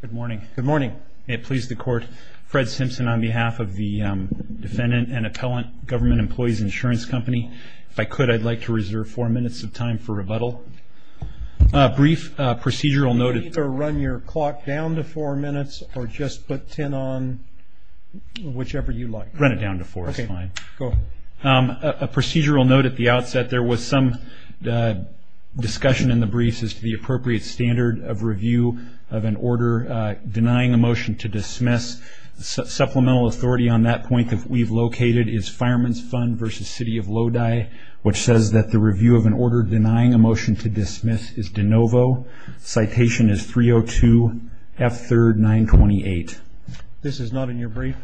Good morning. Good morning. May it please the court, Fred Simpson on behalf of the Defendant and Appellant Government Employees Insurance Company. If I could, I'd like to reserve four minutes of time for rebuttal. A brief procedural note. You can either run your clock down to four minutes or just put ten on, whichever you like. Run it down to four is fine. Okay, go ahead. A procedural note at the outset. There was some discussion in the briefs as to the appropriate standard of review of an order denying a motion to dismiss. Supplemental authority on that point that we've located is Fireman's Fund v. City of Lodi, which says that the review of an order denying a motion to dismiss is de novo. Citation is 302 F. 3rd 928. This is not in your brief?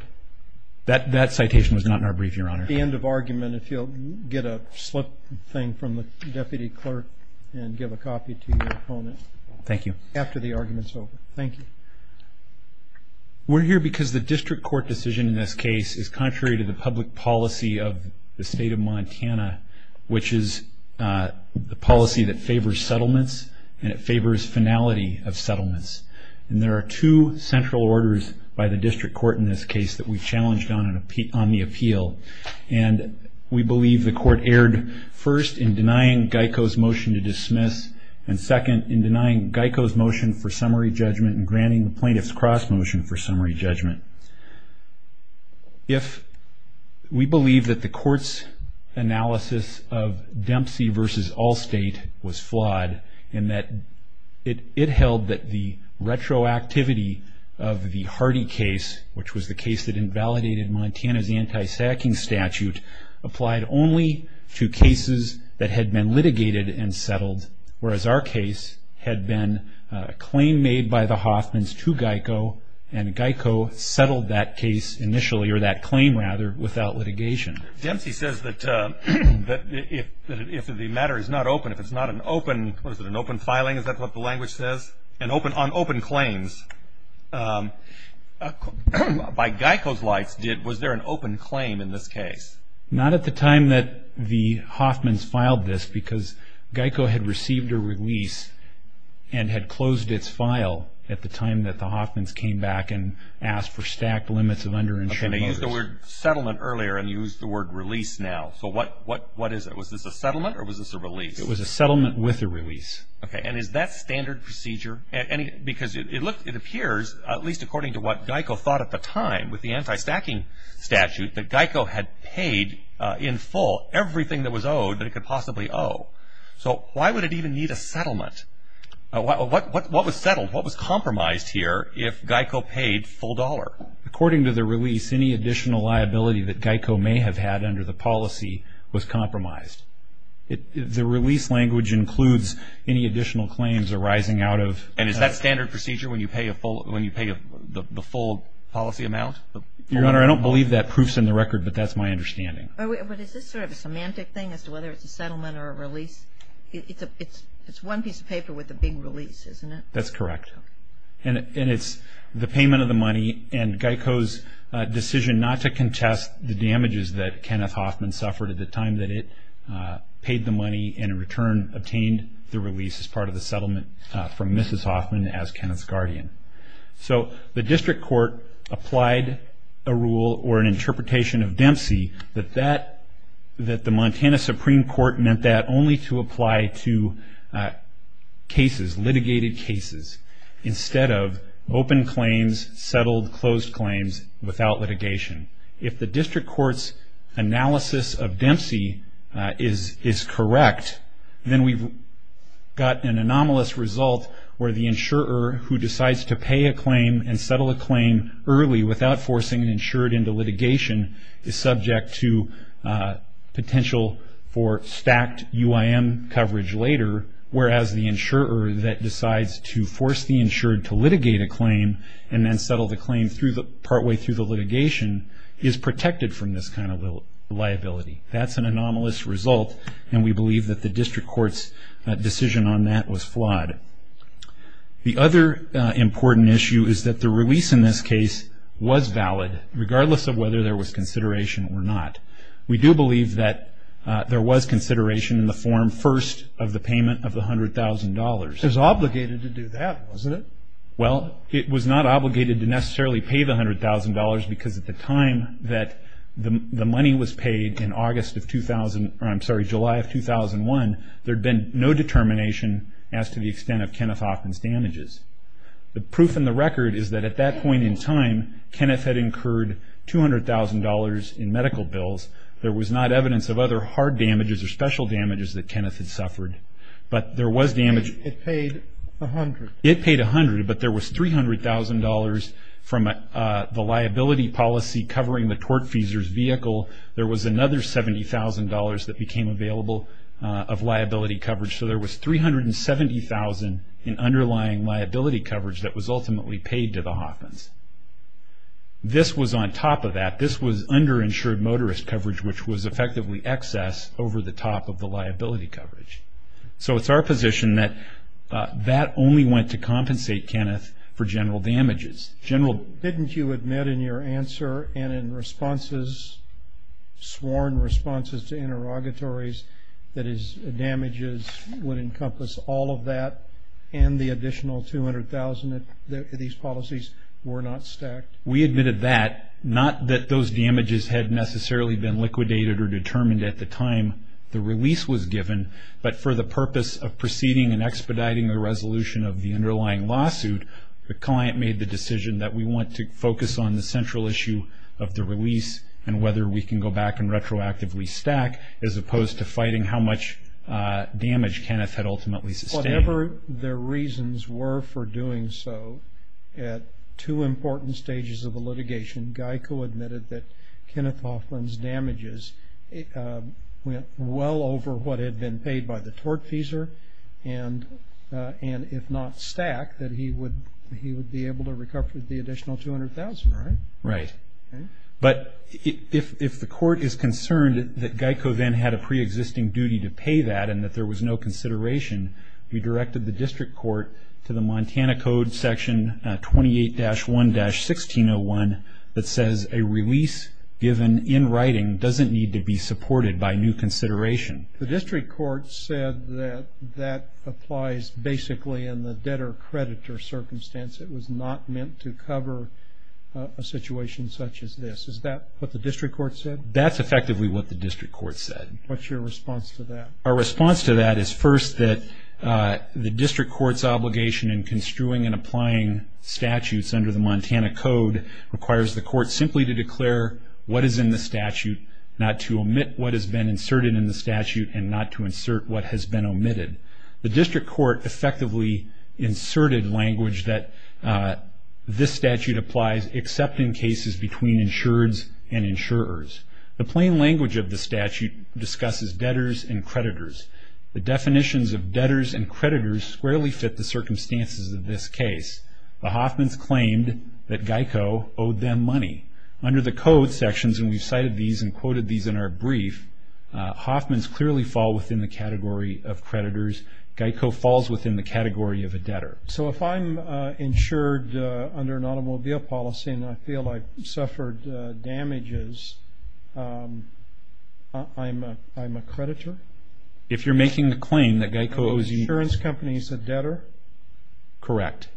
That citation was not in our brief, Your Honor. At the end of argument, if you'll get a slip thing from the Deputy Clerk and give a copy to your opponent. Thank you. After the argument's over. Thank you. We're here because the district court decision in this case is contrary to the public policy of the State of Montana, which is the policy that favors settlements and it favors finality of settlements. And there are two central orders by the district court in this case that we've challenged on the appeal. And we believe the court erred, first, in denying Geico's motion to dismiss, and second, in denying Geico's motion for summary judgment and granting the plaintiff's cross motion for summary judgment. If we believe that the court's analysis of Dempsey v. Allstate was flawed in that it held that the retroactivity of the Hardy case, which was the case that invalidated Montana's anti-sacking statute, applied only to cases that had been litigated and settled, whereas our case had been a claim made by the Hoffmans to Geico, and Geico settled that case initially, or that claim rather, without litigation. Dempsey says that if the matter is not open, if it's not an open, what is it, an open filing, is that what the language says? An open, on open claims, by Geico's likes, was there an open claim in this case? Not at the time that the Hoffmans filed this, because Geico had received a release and had closed its file at the time that the Hoffmans came back and asked for stacked limits of under-insured. And they used the word settlement earlier and used the word release now. So what is it? Was this a settlement or was this a release? It was a settlement with a release. And is that standard procedure? Because it appears, at least according to what Geico thought at the time, with the anti-stacking statute, that Geico had paid in full everything that was owed that it could possibly owe. So why would it even need a settlement? What was settled, what was compromised here if Geico paid full dollar? According to the release, any additional liability that Geico may have had under the policy was compromised. The release language includes any additional claims arising out of... And is that standard procedure when you pay the full policy amount? Your Honor, I don't believe that proof's in the record, but that's my understanding. But is this sort of a semantic thing as to whether it's a settlement or a release? It's one piece of paper with a big release, isn't it? That's correct. And it's the payment of the money and Geico's decision not to contest the damages that Kenneth Hoffman suffered at the time that it paid the money and in return obtained the release as part of the settlement from Mrs. Hoffman as Kenneth's guardian. So the district court applied a rule or an interpretation of Dempsey that the Montana Supreme Court meant that only to apply to cases, litigated cases, instead of open claims, settled, closed claims without litigation. If the district court's analysis of Dempsey is correct, then we've got an anomalous result where the insurer who decides to pay a claim and settle a claim early without forcing an insurer into litigation is subject to potential for stacked UIM coverage later, whereas the insurer that decides to force the insured to litigate a claim and then settle the claim partway through the litigation is protected from this kind of liability. That's an anomalous result, and we believe that the district court's decision on that was flawed. The other important issue is that the release in this case was valid, regardless of whether there was consideration or not. We do believe that there was consideration in the form first of the payment of the $100,000. It was obligated to do that, wasn't it? Well, it was not obligated to necessarily pay the $100,000 because at the time that the money was paid in July of 2001, there had been no determination as to the extent of Kenneth Hoffman's damages. The proof in the record is that at that point in time, Kenneth had incurred $200,000 in medical bills. There was not evidence of other hard damages or special damages that Kenneth had suffered. But there was damage. It paid $100,000. It paid $100,000, but there was $300,000 from the liability policy covering the tortfeasor's vehicle. There was another $70,000 that became available of liability coverage. So there was $370,000 in underlying liability coverage that was ultimately paid to the Hoffmans. This was on top of that. This was underinsured motorist coverage, which was effectively excess over the top of the liability coverage. So it's our position that that only went to compensate Kenneth for general damages. Didn't you admit in your answer and in responses, sworn responses to interrogatories, that his damages would encompass all of that and the additional $200,000 if these policies were not stacked? We admitted that. Not that those damages had necessarily been liquidated or determined at the time the release was given, but for the purpose of proceeding and expediting the resolution of the underlying lawsuit, the client made the decision that we want to focus on the central issue of the release and whether we can go back and retroactively stack, as opposed to fighting how much damage Kenneth had ultimately sustained. Whatever the reasons were for doing so, at two important stages of the litigation, Geico admitted that Kenneth Hoffman's damages went well over what had been paid by the tortfeasor, and if not stacked, that he would be able to recover the additional $200,000. Right. But if the court is concerned that Geico then had a preexisting duty to pay that and that there was no consideration, we directed the district court to the Montana Code Section 28-1-1601 that says a release given in writing doesn't need to be supported by new consideration. The district court said that that applies basically in the debtor-creditor circumstance. It was not meant to cover a situation such as this. Is that what the district court said? That's effectively what the district court said. What's your response to that? Our response to that is first that the district court's obligation in construing and applying statutes under the Montana Code requires the court simply to declare what is in the statute, not to omit what has been inserted in the statute, and not to insert what has been omitted. The district court effectively inserted language that this statute applies except in cases between insureds and insurers. The plain language of the statute discusses debtors and creditors. The definitions of debtors and creditors squarely fit the circumstances of this case. The Hoffmans claimed that Geico owed them money. Under the code sections, and we've cited these and quoted these in our brief, Hoffmans clearly fall within the category of creditors. Geico falls within the category of a debtor. So if I'm insured under an automobile policy and I feel I've suffered damages, I'm a creditor? If you're making the claim that Geico owes you money. An insurance company is a debtor? Correct.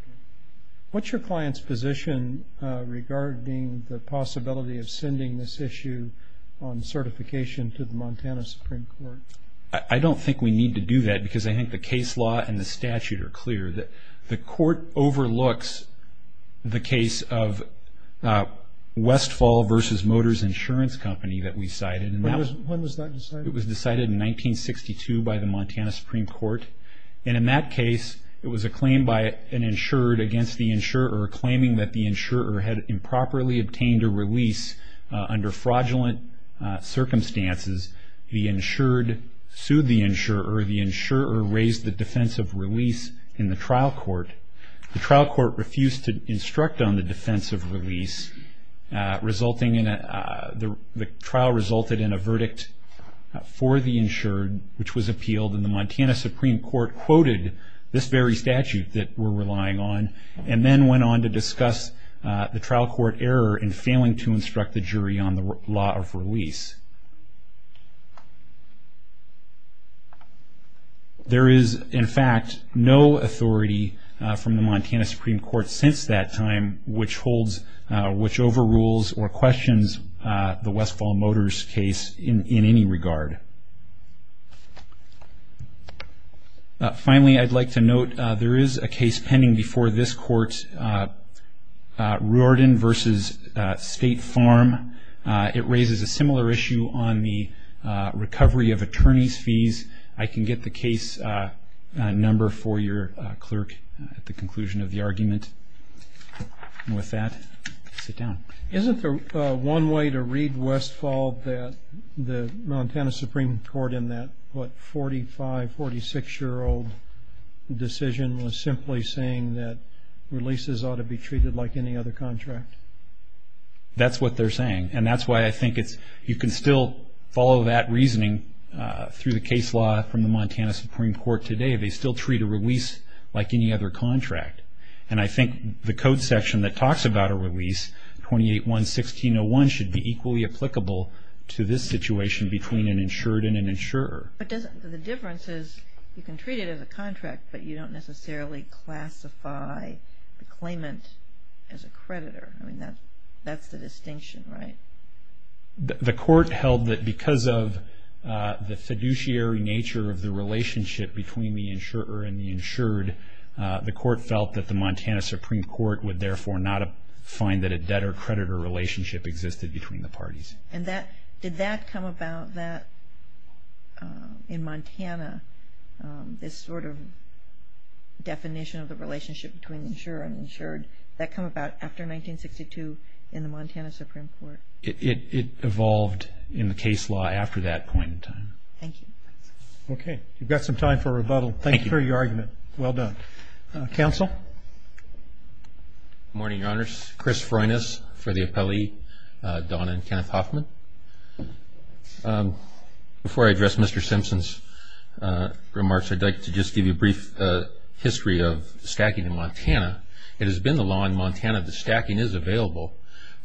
What's your client's position regarding the possibility of sending this issue on certification to the Montana Supreme Court? I don't think we need to do that because I think the case law and the statute are clear. The court overlooks the case of Westfall v. Motors Insurance Company that we cited. When was that decided? It was decided in 1962 by the Montana Supreme Court. In that case, it was a claim by an insured against the insurer, claiming that the insurer had improperly obtained a release under fraudulent circumstances. The insured sued the insurer. The insurer raised the defense of release in the trial court. The trial court refused to instruct on the defense of release. The trial resulted in a verdict for the insured, which was appealed and the Montana Supreme Court quoted this very statute that we're relying on and then went on to discuss the trial court error in failing to instruct the jury on the law of release. There is, in fact, no authority from the Montana Supreme Court since that time which overrules or questions the Westfall v. Motors case in any regard. Finally, I'd like to note there is a case pending before this court, Reardon v. State Farm. It raises a similar issue on the recovery of attorney's fees. I can get the case number for your clerk at the conclusion of the argument. With that, sit down. Isn't there one way to read Westfall that the Montana Supreme Court in that 45, 46-year-old decision was simply saying that releases ought to be treated like any other contract? That's what they're saying. That's why I think you can still follow that reasoning through the case law from the Montana Supreme Court today. They still treat a release like any other contract. I think the code section that talks about a release, 28-1-1601, should be equally applicable to this situation between an insured and an insurer. The difference is you can treat it as a contract, but you don't necessarily classify the claimant as a creditor. I mean, that's the distinction, right? The court held that because of the fiduciary nature of the relationship between the insurer and the insured, the court felt that the Montana Supreme Court would, therefore, not find that a debtor-creditor relationship existed between the parties. And did that come about in Montana, this sort of definition of the relationship between the insurer and the insured? Did that come about after 1962 in the Montana Supreme Court? It evolved in the case law after that point in time. Thank you. You've got some time for rebuttal. Thank you. Thank you for your argument. Well done. Counsel? Good morning, Your Honors. Chris Freunas for the appellee, Donna and Kenneth Hoffman. Before I address Mr. Simpson's remarks, I'd like to just give you a brief history of stacking in Montana. It has been the law in Montana that stacking is available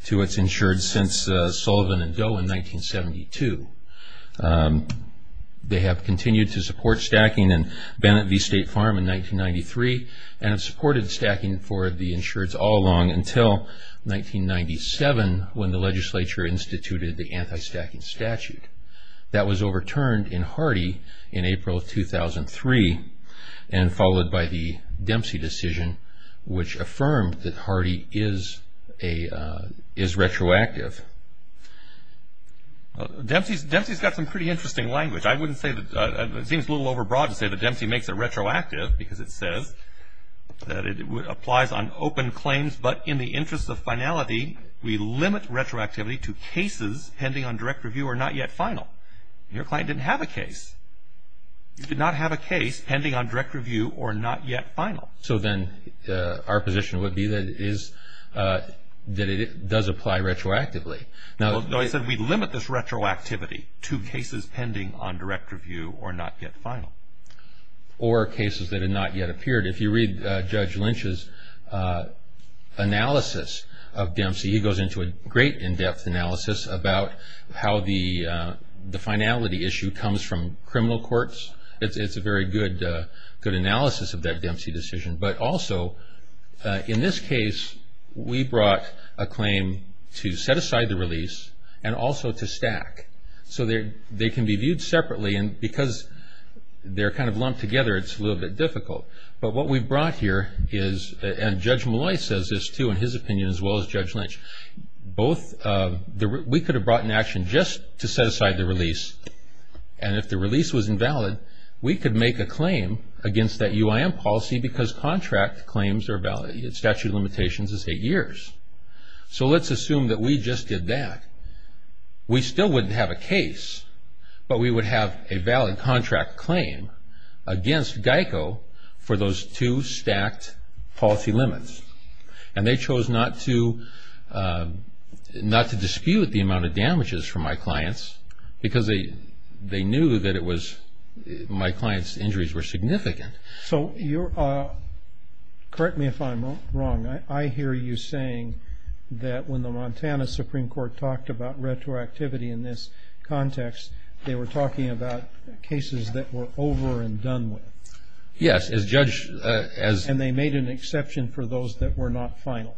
to its insured since Sullivan and Doe in 1972. They have continued to support stacking in Bennett v. State Farm in 1993, and have supported stacking for the insured all along until 1997 when the legislature instituted the anti-stacking statute. That was overturned in Hardy in April 2003 and followed by the Dempsey decision, which affirmed that Hardy is retroactive. Dempsey's got some pretty interesting language. I wouldn't say that it seems a little overbroad to say that Dempsey makes it retroactive because it says that it applies on open claims, but in the interest of finality, we limit retroactivity to cases pending on direct review or not yet final. Your client didn't have a case. He did not have a case pending on direct review or not yet final. So then our position would be that it does apply retroactively. No, I said we limit this retroactivity to cases pending on direct review or not yet final. Or cases that have not yet appeared. If you read Judge Lynch's analysis of Dempsey, he goes into a great in-depth analysis about how the finality issue comes from criminal courts. It's a very good analysis of that Dempsey decision. But also, in this case, we brought a claim to set aside the release and also to stack. So they can be viewed separately, and because they're kind of lumped together, it's a little bit difficult. But what we brought here is, and Judge Malloy says this, too, in his opinion, as well as Judge Lynch. We could have brought an action just to set aside the release, and if the release was invalid, we could make a claim against that UIM policy because contract claims are valid. Statute of limitations is eight years. So let's assume that we just did that. We still wouldn't have a case, but we would have a valid contract claim against GEICO for those two stacked policy limits. And they chose not to dispute the amount of damages from my clients because they knew that my clients' injuries were significant. So correct me if I'm wrong. I hear you saying that when the Montana Supreme Court talked about retroactivity in this context, they were talking about cases that were over and done with. Yes. And they made an exception for those that were not final.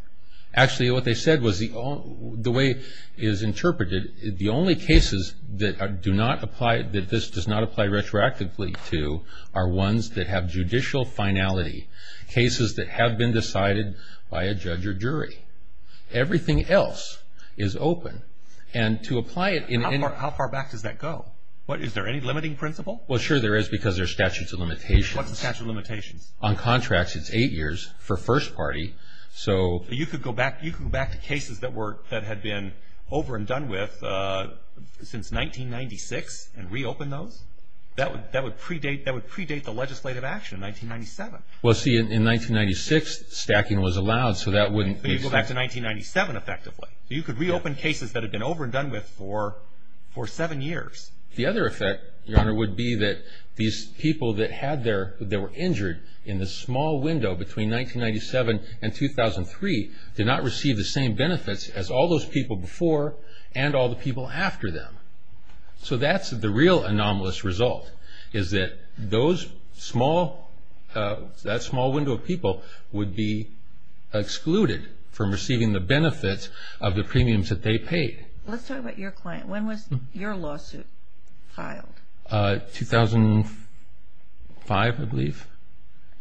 Actually, what they said was the way it is interpreted, the only cases that this does not apply retroactively to are ones that have judicial finality, cases that have been decided by a judge or jury. Everything else is open. How far back does that go? Is there any limiting principle? Well, sure there is because there are statutes of limitations. What's the statute of limitations? On contracts, it's eight years for first party. You could go back to cases that had been over and done with since 1996 and reopen those? That would predate the legislative action in 1997. Well, see, in 1996, stacking was allowed, so that wouldn't be... But you go back to 1997 effectively. You could reopen cases that had been over and done with for seven years. The other effect, Your Honor, would be that these people that were injured in this small window between 1997 and 2003 did not receive the same benefits as all those people before and all the people after them. So that's the real anomalous result is that that small window of people would be excluded from receiving the benefits of the premiums that they paid. Let's talk about your client. When was your lawsuit filed? 2005, I believe.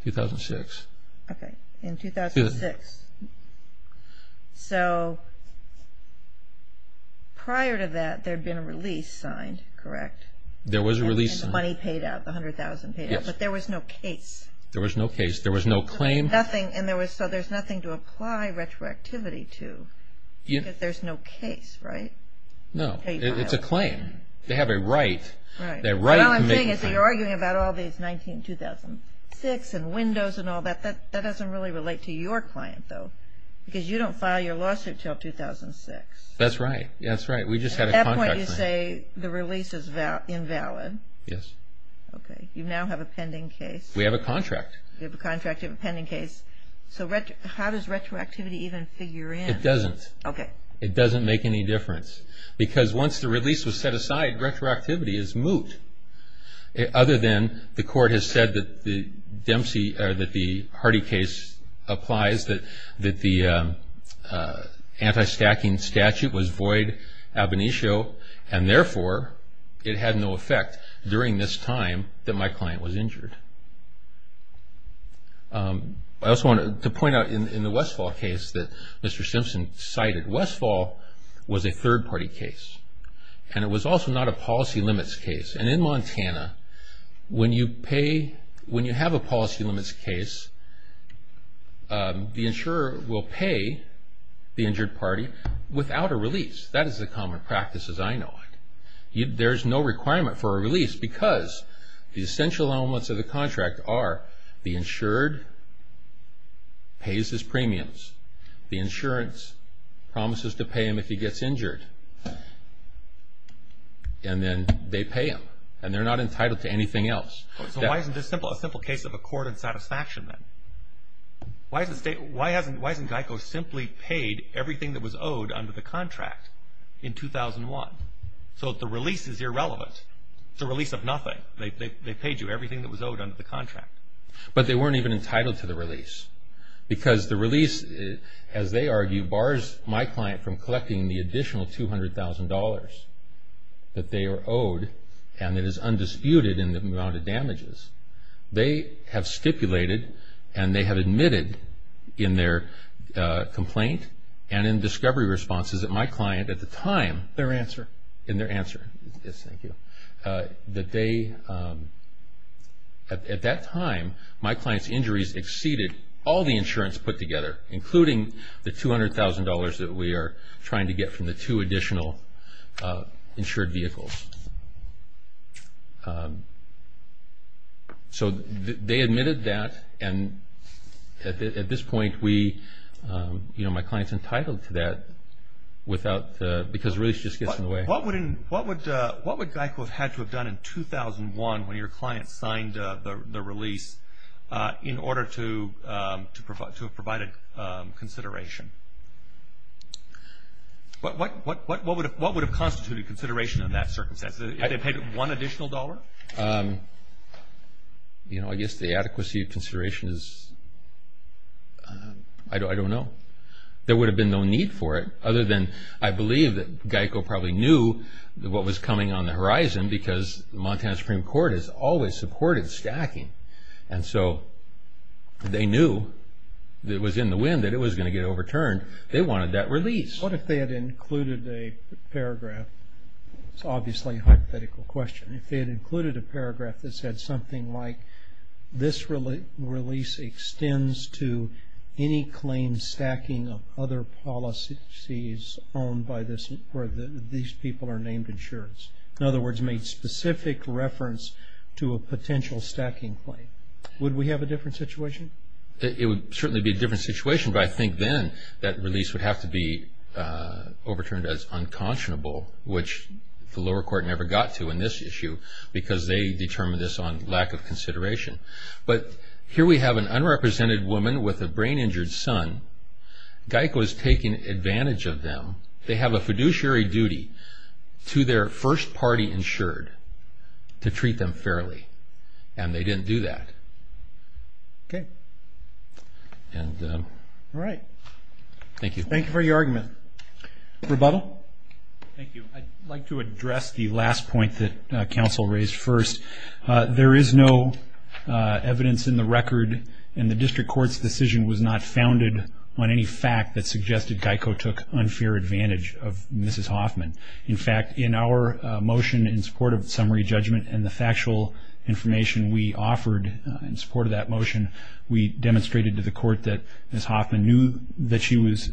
2006. Okay. In 2006. So prior to that, there had been a release signed, correct? There was a release signed. And the money paid out. The $100,000 paid out. Yes. But there was no case. There was no case. There was no claim. So there's nothing to apply retroactivity to because there's no case, right? No. It's a claim. They have a right. Right. The right to make a claim. So you're arguing about all these 19-2006 and windows and all that. That doesn't really relate to your client, though, because you don't file your lawsuit until 2006. That's right. That's right. We just had a contract. At that point, you say the release is invalid. Yes. Okay. You now have a pending case. We have a contract. You have a contract. You have a pending case. So how does retroactivity even figure in? It doesn't. Okay. It doesn't make any difference because once the release was set aside, retroactivity is moot. Other than the court has said that the Dempsey or that the Hardy case applies, that the anti-stacking statute was void ab initio, and therefore it had no effect during this time that my client was injured. I also wanted to point out in the Westfall case that Mr. Simpson cited, Westfall was a third-party case. And it was also not a policy limits case. And in Montana, when you pay, when you have a policy limits case, the insurer will pay the injured party without a release. That is the common practice as I know it. There's no requirement for a release because the essential elements of the contract are the insured pays his premiums, the insurance promises to pay him if he gets injured, and then they pay him. And they're not entitled to anything else. So why isn't this a simple case of accord and satisfaction then? Why hasn't GEICO simply paid everything that was owed under the contract in 2001? So the release is irrelevant. It's a release of nothing. They paid you everything that was owed under the contract. But they weren't even entitled to the release. Because the release, as they argue, bars my client from collecting the additional $200,000 that they are owed, and it is undisputed in the amount of damages they have stipulated and they have admitted in their complaint and in discovery responses that my client at the time. Their answer. In their answer. Yes, thank you. That they, at that time, my client's injuries exceeded all the insurance put together, including the $200,000 that we are trying to get from the two additional insured vehicles. So they admitted that, and at this point we, you know, my client's entitled to that without, because the release just gets in the way. What would GEICO have had to have done in 2001 when your client signed the release in order to have provided consideration? What would have constituted consideration in that circumstance? If they paid one additional dollar? You know, I guess the adequacy of consideration is, I don't know. There would have been no need for it other than I believe that GEICO probably knew what was coming on the horizon because Montana Supreme Court has always supported stacking. And so they knew that it was in the wind, that it was going to get overturned. They wanted that release. What if they had included a paragraph? It's obviously a hypothetical question. If they had included a paragraph that said something like, this release extends to any claim stacking of other policies owned by this or these people are named insurers. In other words, made specific reference to a potential stacking claim. Would we have a different situation? It would certainly be a different situation, but I think then that release would have to be overturned as unconscionable, which the lower court never got to in this issue because they determined this on lack of consideration. But here we have an unrepresented woman with a brain injured son. GEICO is taking advantage of them. They have a fiduciary duty to their first party insured to treat them fairly. And they didn't do that. Okay. All right. Thank you. Thank you for your argument. Rebuttal? Thank you. I'd like to address the last point that counsel raised first. There is no evidence in the record, and the district court's decision was not founded on any fact that suggested GEICO took unfair advantage of Mrs. Hoffman. In fact, in our motion in support of summary judgment and the factual information we offered in support of that motion, we demonstrated to the court that Mrs. Hoffman knew that she was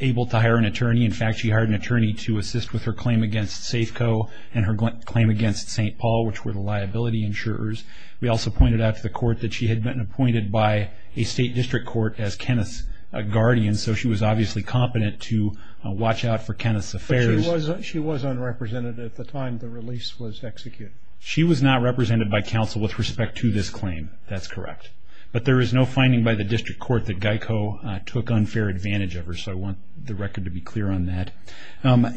able to hire an attorney. In fact, she hired an attorney to assist with her claim against Safeco and her claim against St. Paul, which were the liability insurers. We also pointed out to the court that she had been appointed by a state district court as Kenneth's guardian, so she was obviously competent to watch out for Kenneth's affairs. But she was unrepresented at the time the release was executed. She was not represented by counsel with respect to this claim. That's correct. But there is no finding by the district court that GEICO took unfair advantage of her, so I want the record to be clear on that.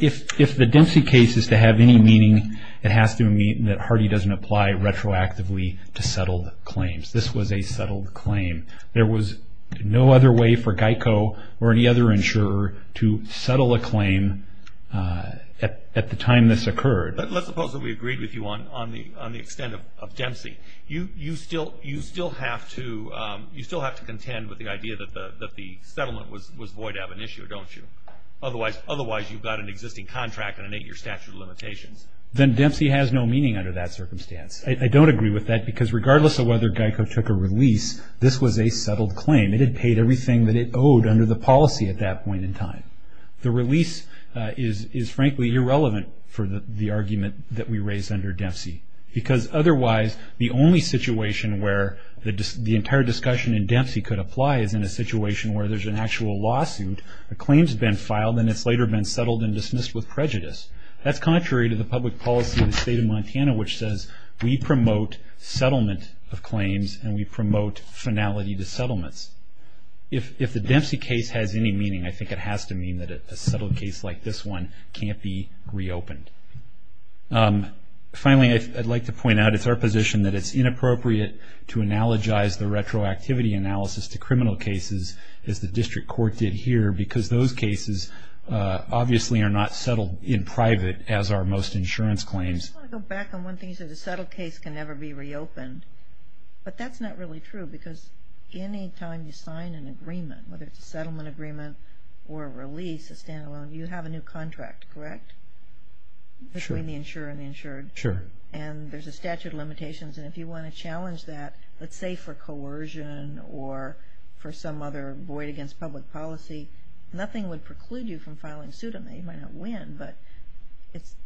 If the Dempsey case is to have any meaning, it has to mean that Hardy doesn't apply retroactively to settled claims. This was a settled claim. There was no other way for GEICO or any other insurer to settle a claim at the time this occurred. But let's suppose that we agreed with you on the extent of Dempsey. You still have to contend with the idea that the settlement was void of an issue, don't you? Otherwise, you've got an existing contract and an eight-year statute of limitations. Then Dempsey has no meaning under that circumstance. I don't agree with that because regardless of whether GEICO took a release, this was a settled claim. It had paid everything that it owed under the policy at that point in time. The release is frankly irrelevant for the argument that we raised under Dempsey because otherwise the only situation where the entire discussion in Dempsey could apply is in a situation where there's an actual lawsuit, a claim's been filed, and it's later been settled and dismissed with prejudice. That's contrary to the public policy of the state of Montana, which says we promote settlement of claims and we promote finality to settlements. If the Dempsey case has any meaning, I think it has to mean that a settled case like this one can't be reopened. Finally, I'd like to point out it's our position that it's inappropriate to analogize the retroactivity analysis to criminal cases as the district court did here because those cases obviously are not settled in private as are most insurance claims. I just want to go back on one thing. You said a settled case can never be reopened. But that's not really true because any time you sign an agreement, whether it's a settlement agreement or a release, a standalone, you have a new contract, correct, between the insured and the insured? Sure. And there's a statute of limitations, and if you want to challenge that, let's say for coercion or for some other void against public policy, nothing would preclude you from filing suit on that. You might not win, but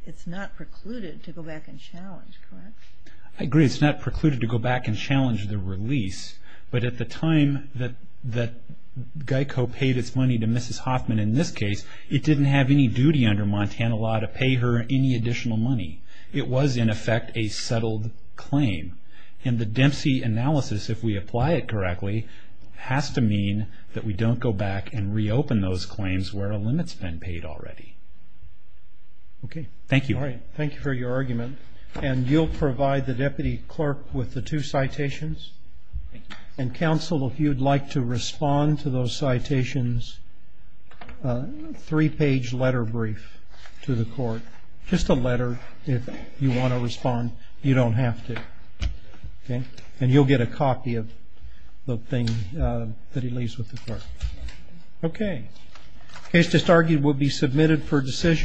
it's not precluded to go back and challenge, correct? I agree. It's not precluded to go back and challenge the release. But at the time that GEICO paid its money to Mrs. Hoffman in this case, it didn't have any duty under Montana law to pay her any additional money. It was, in effect, a settled claim. And the Dempsey analysis, if we apply it correctly, has to mean that we don't go back and reopen those claims where a limit's been paid already. Okay. Thank you. All right. Thank you for your argument. And you'll provide the deputy clerk with the two citations. And, counsel, if you'd like to respond to those citations, a three-page letter brief to the court. Just a letter if you want to respond. You don't have to. And you'll get a copy of the thing that he leaves with the clerk. Okay. Case just argued will be submitted for decision.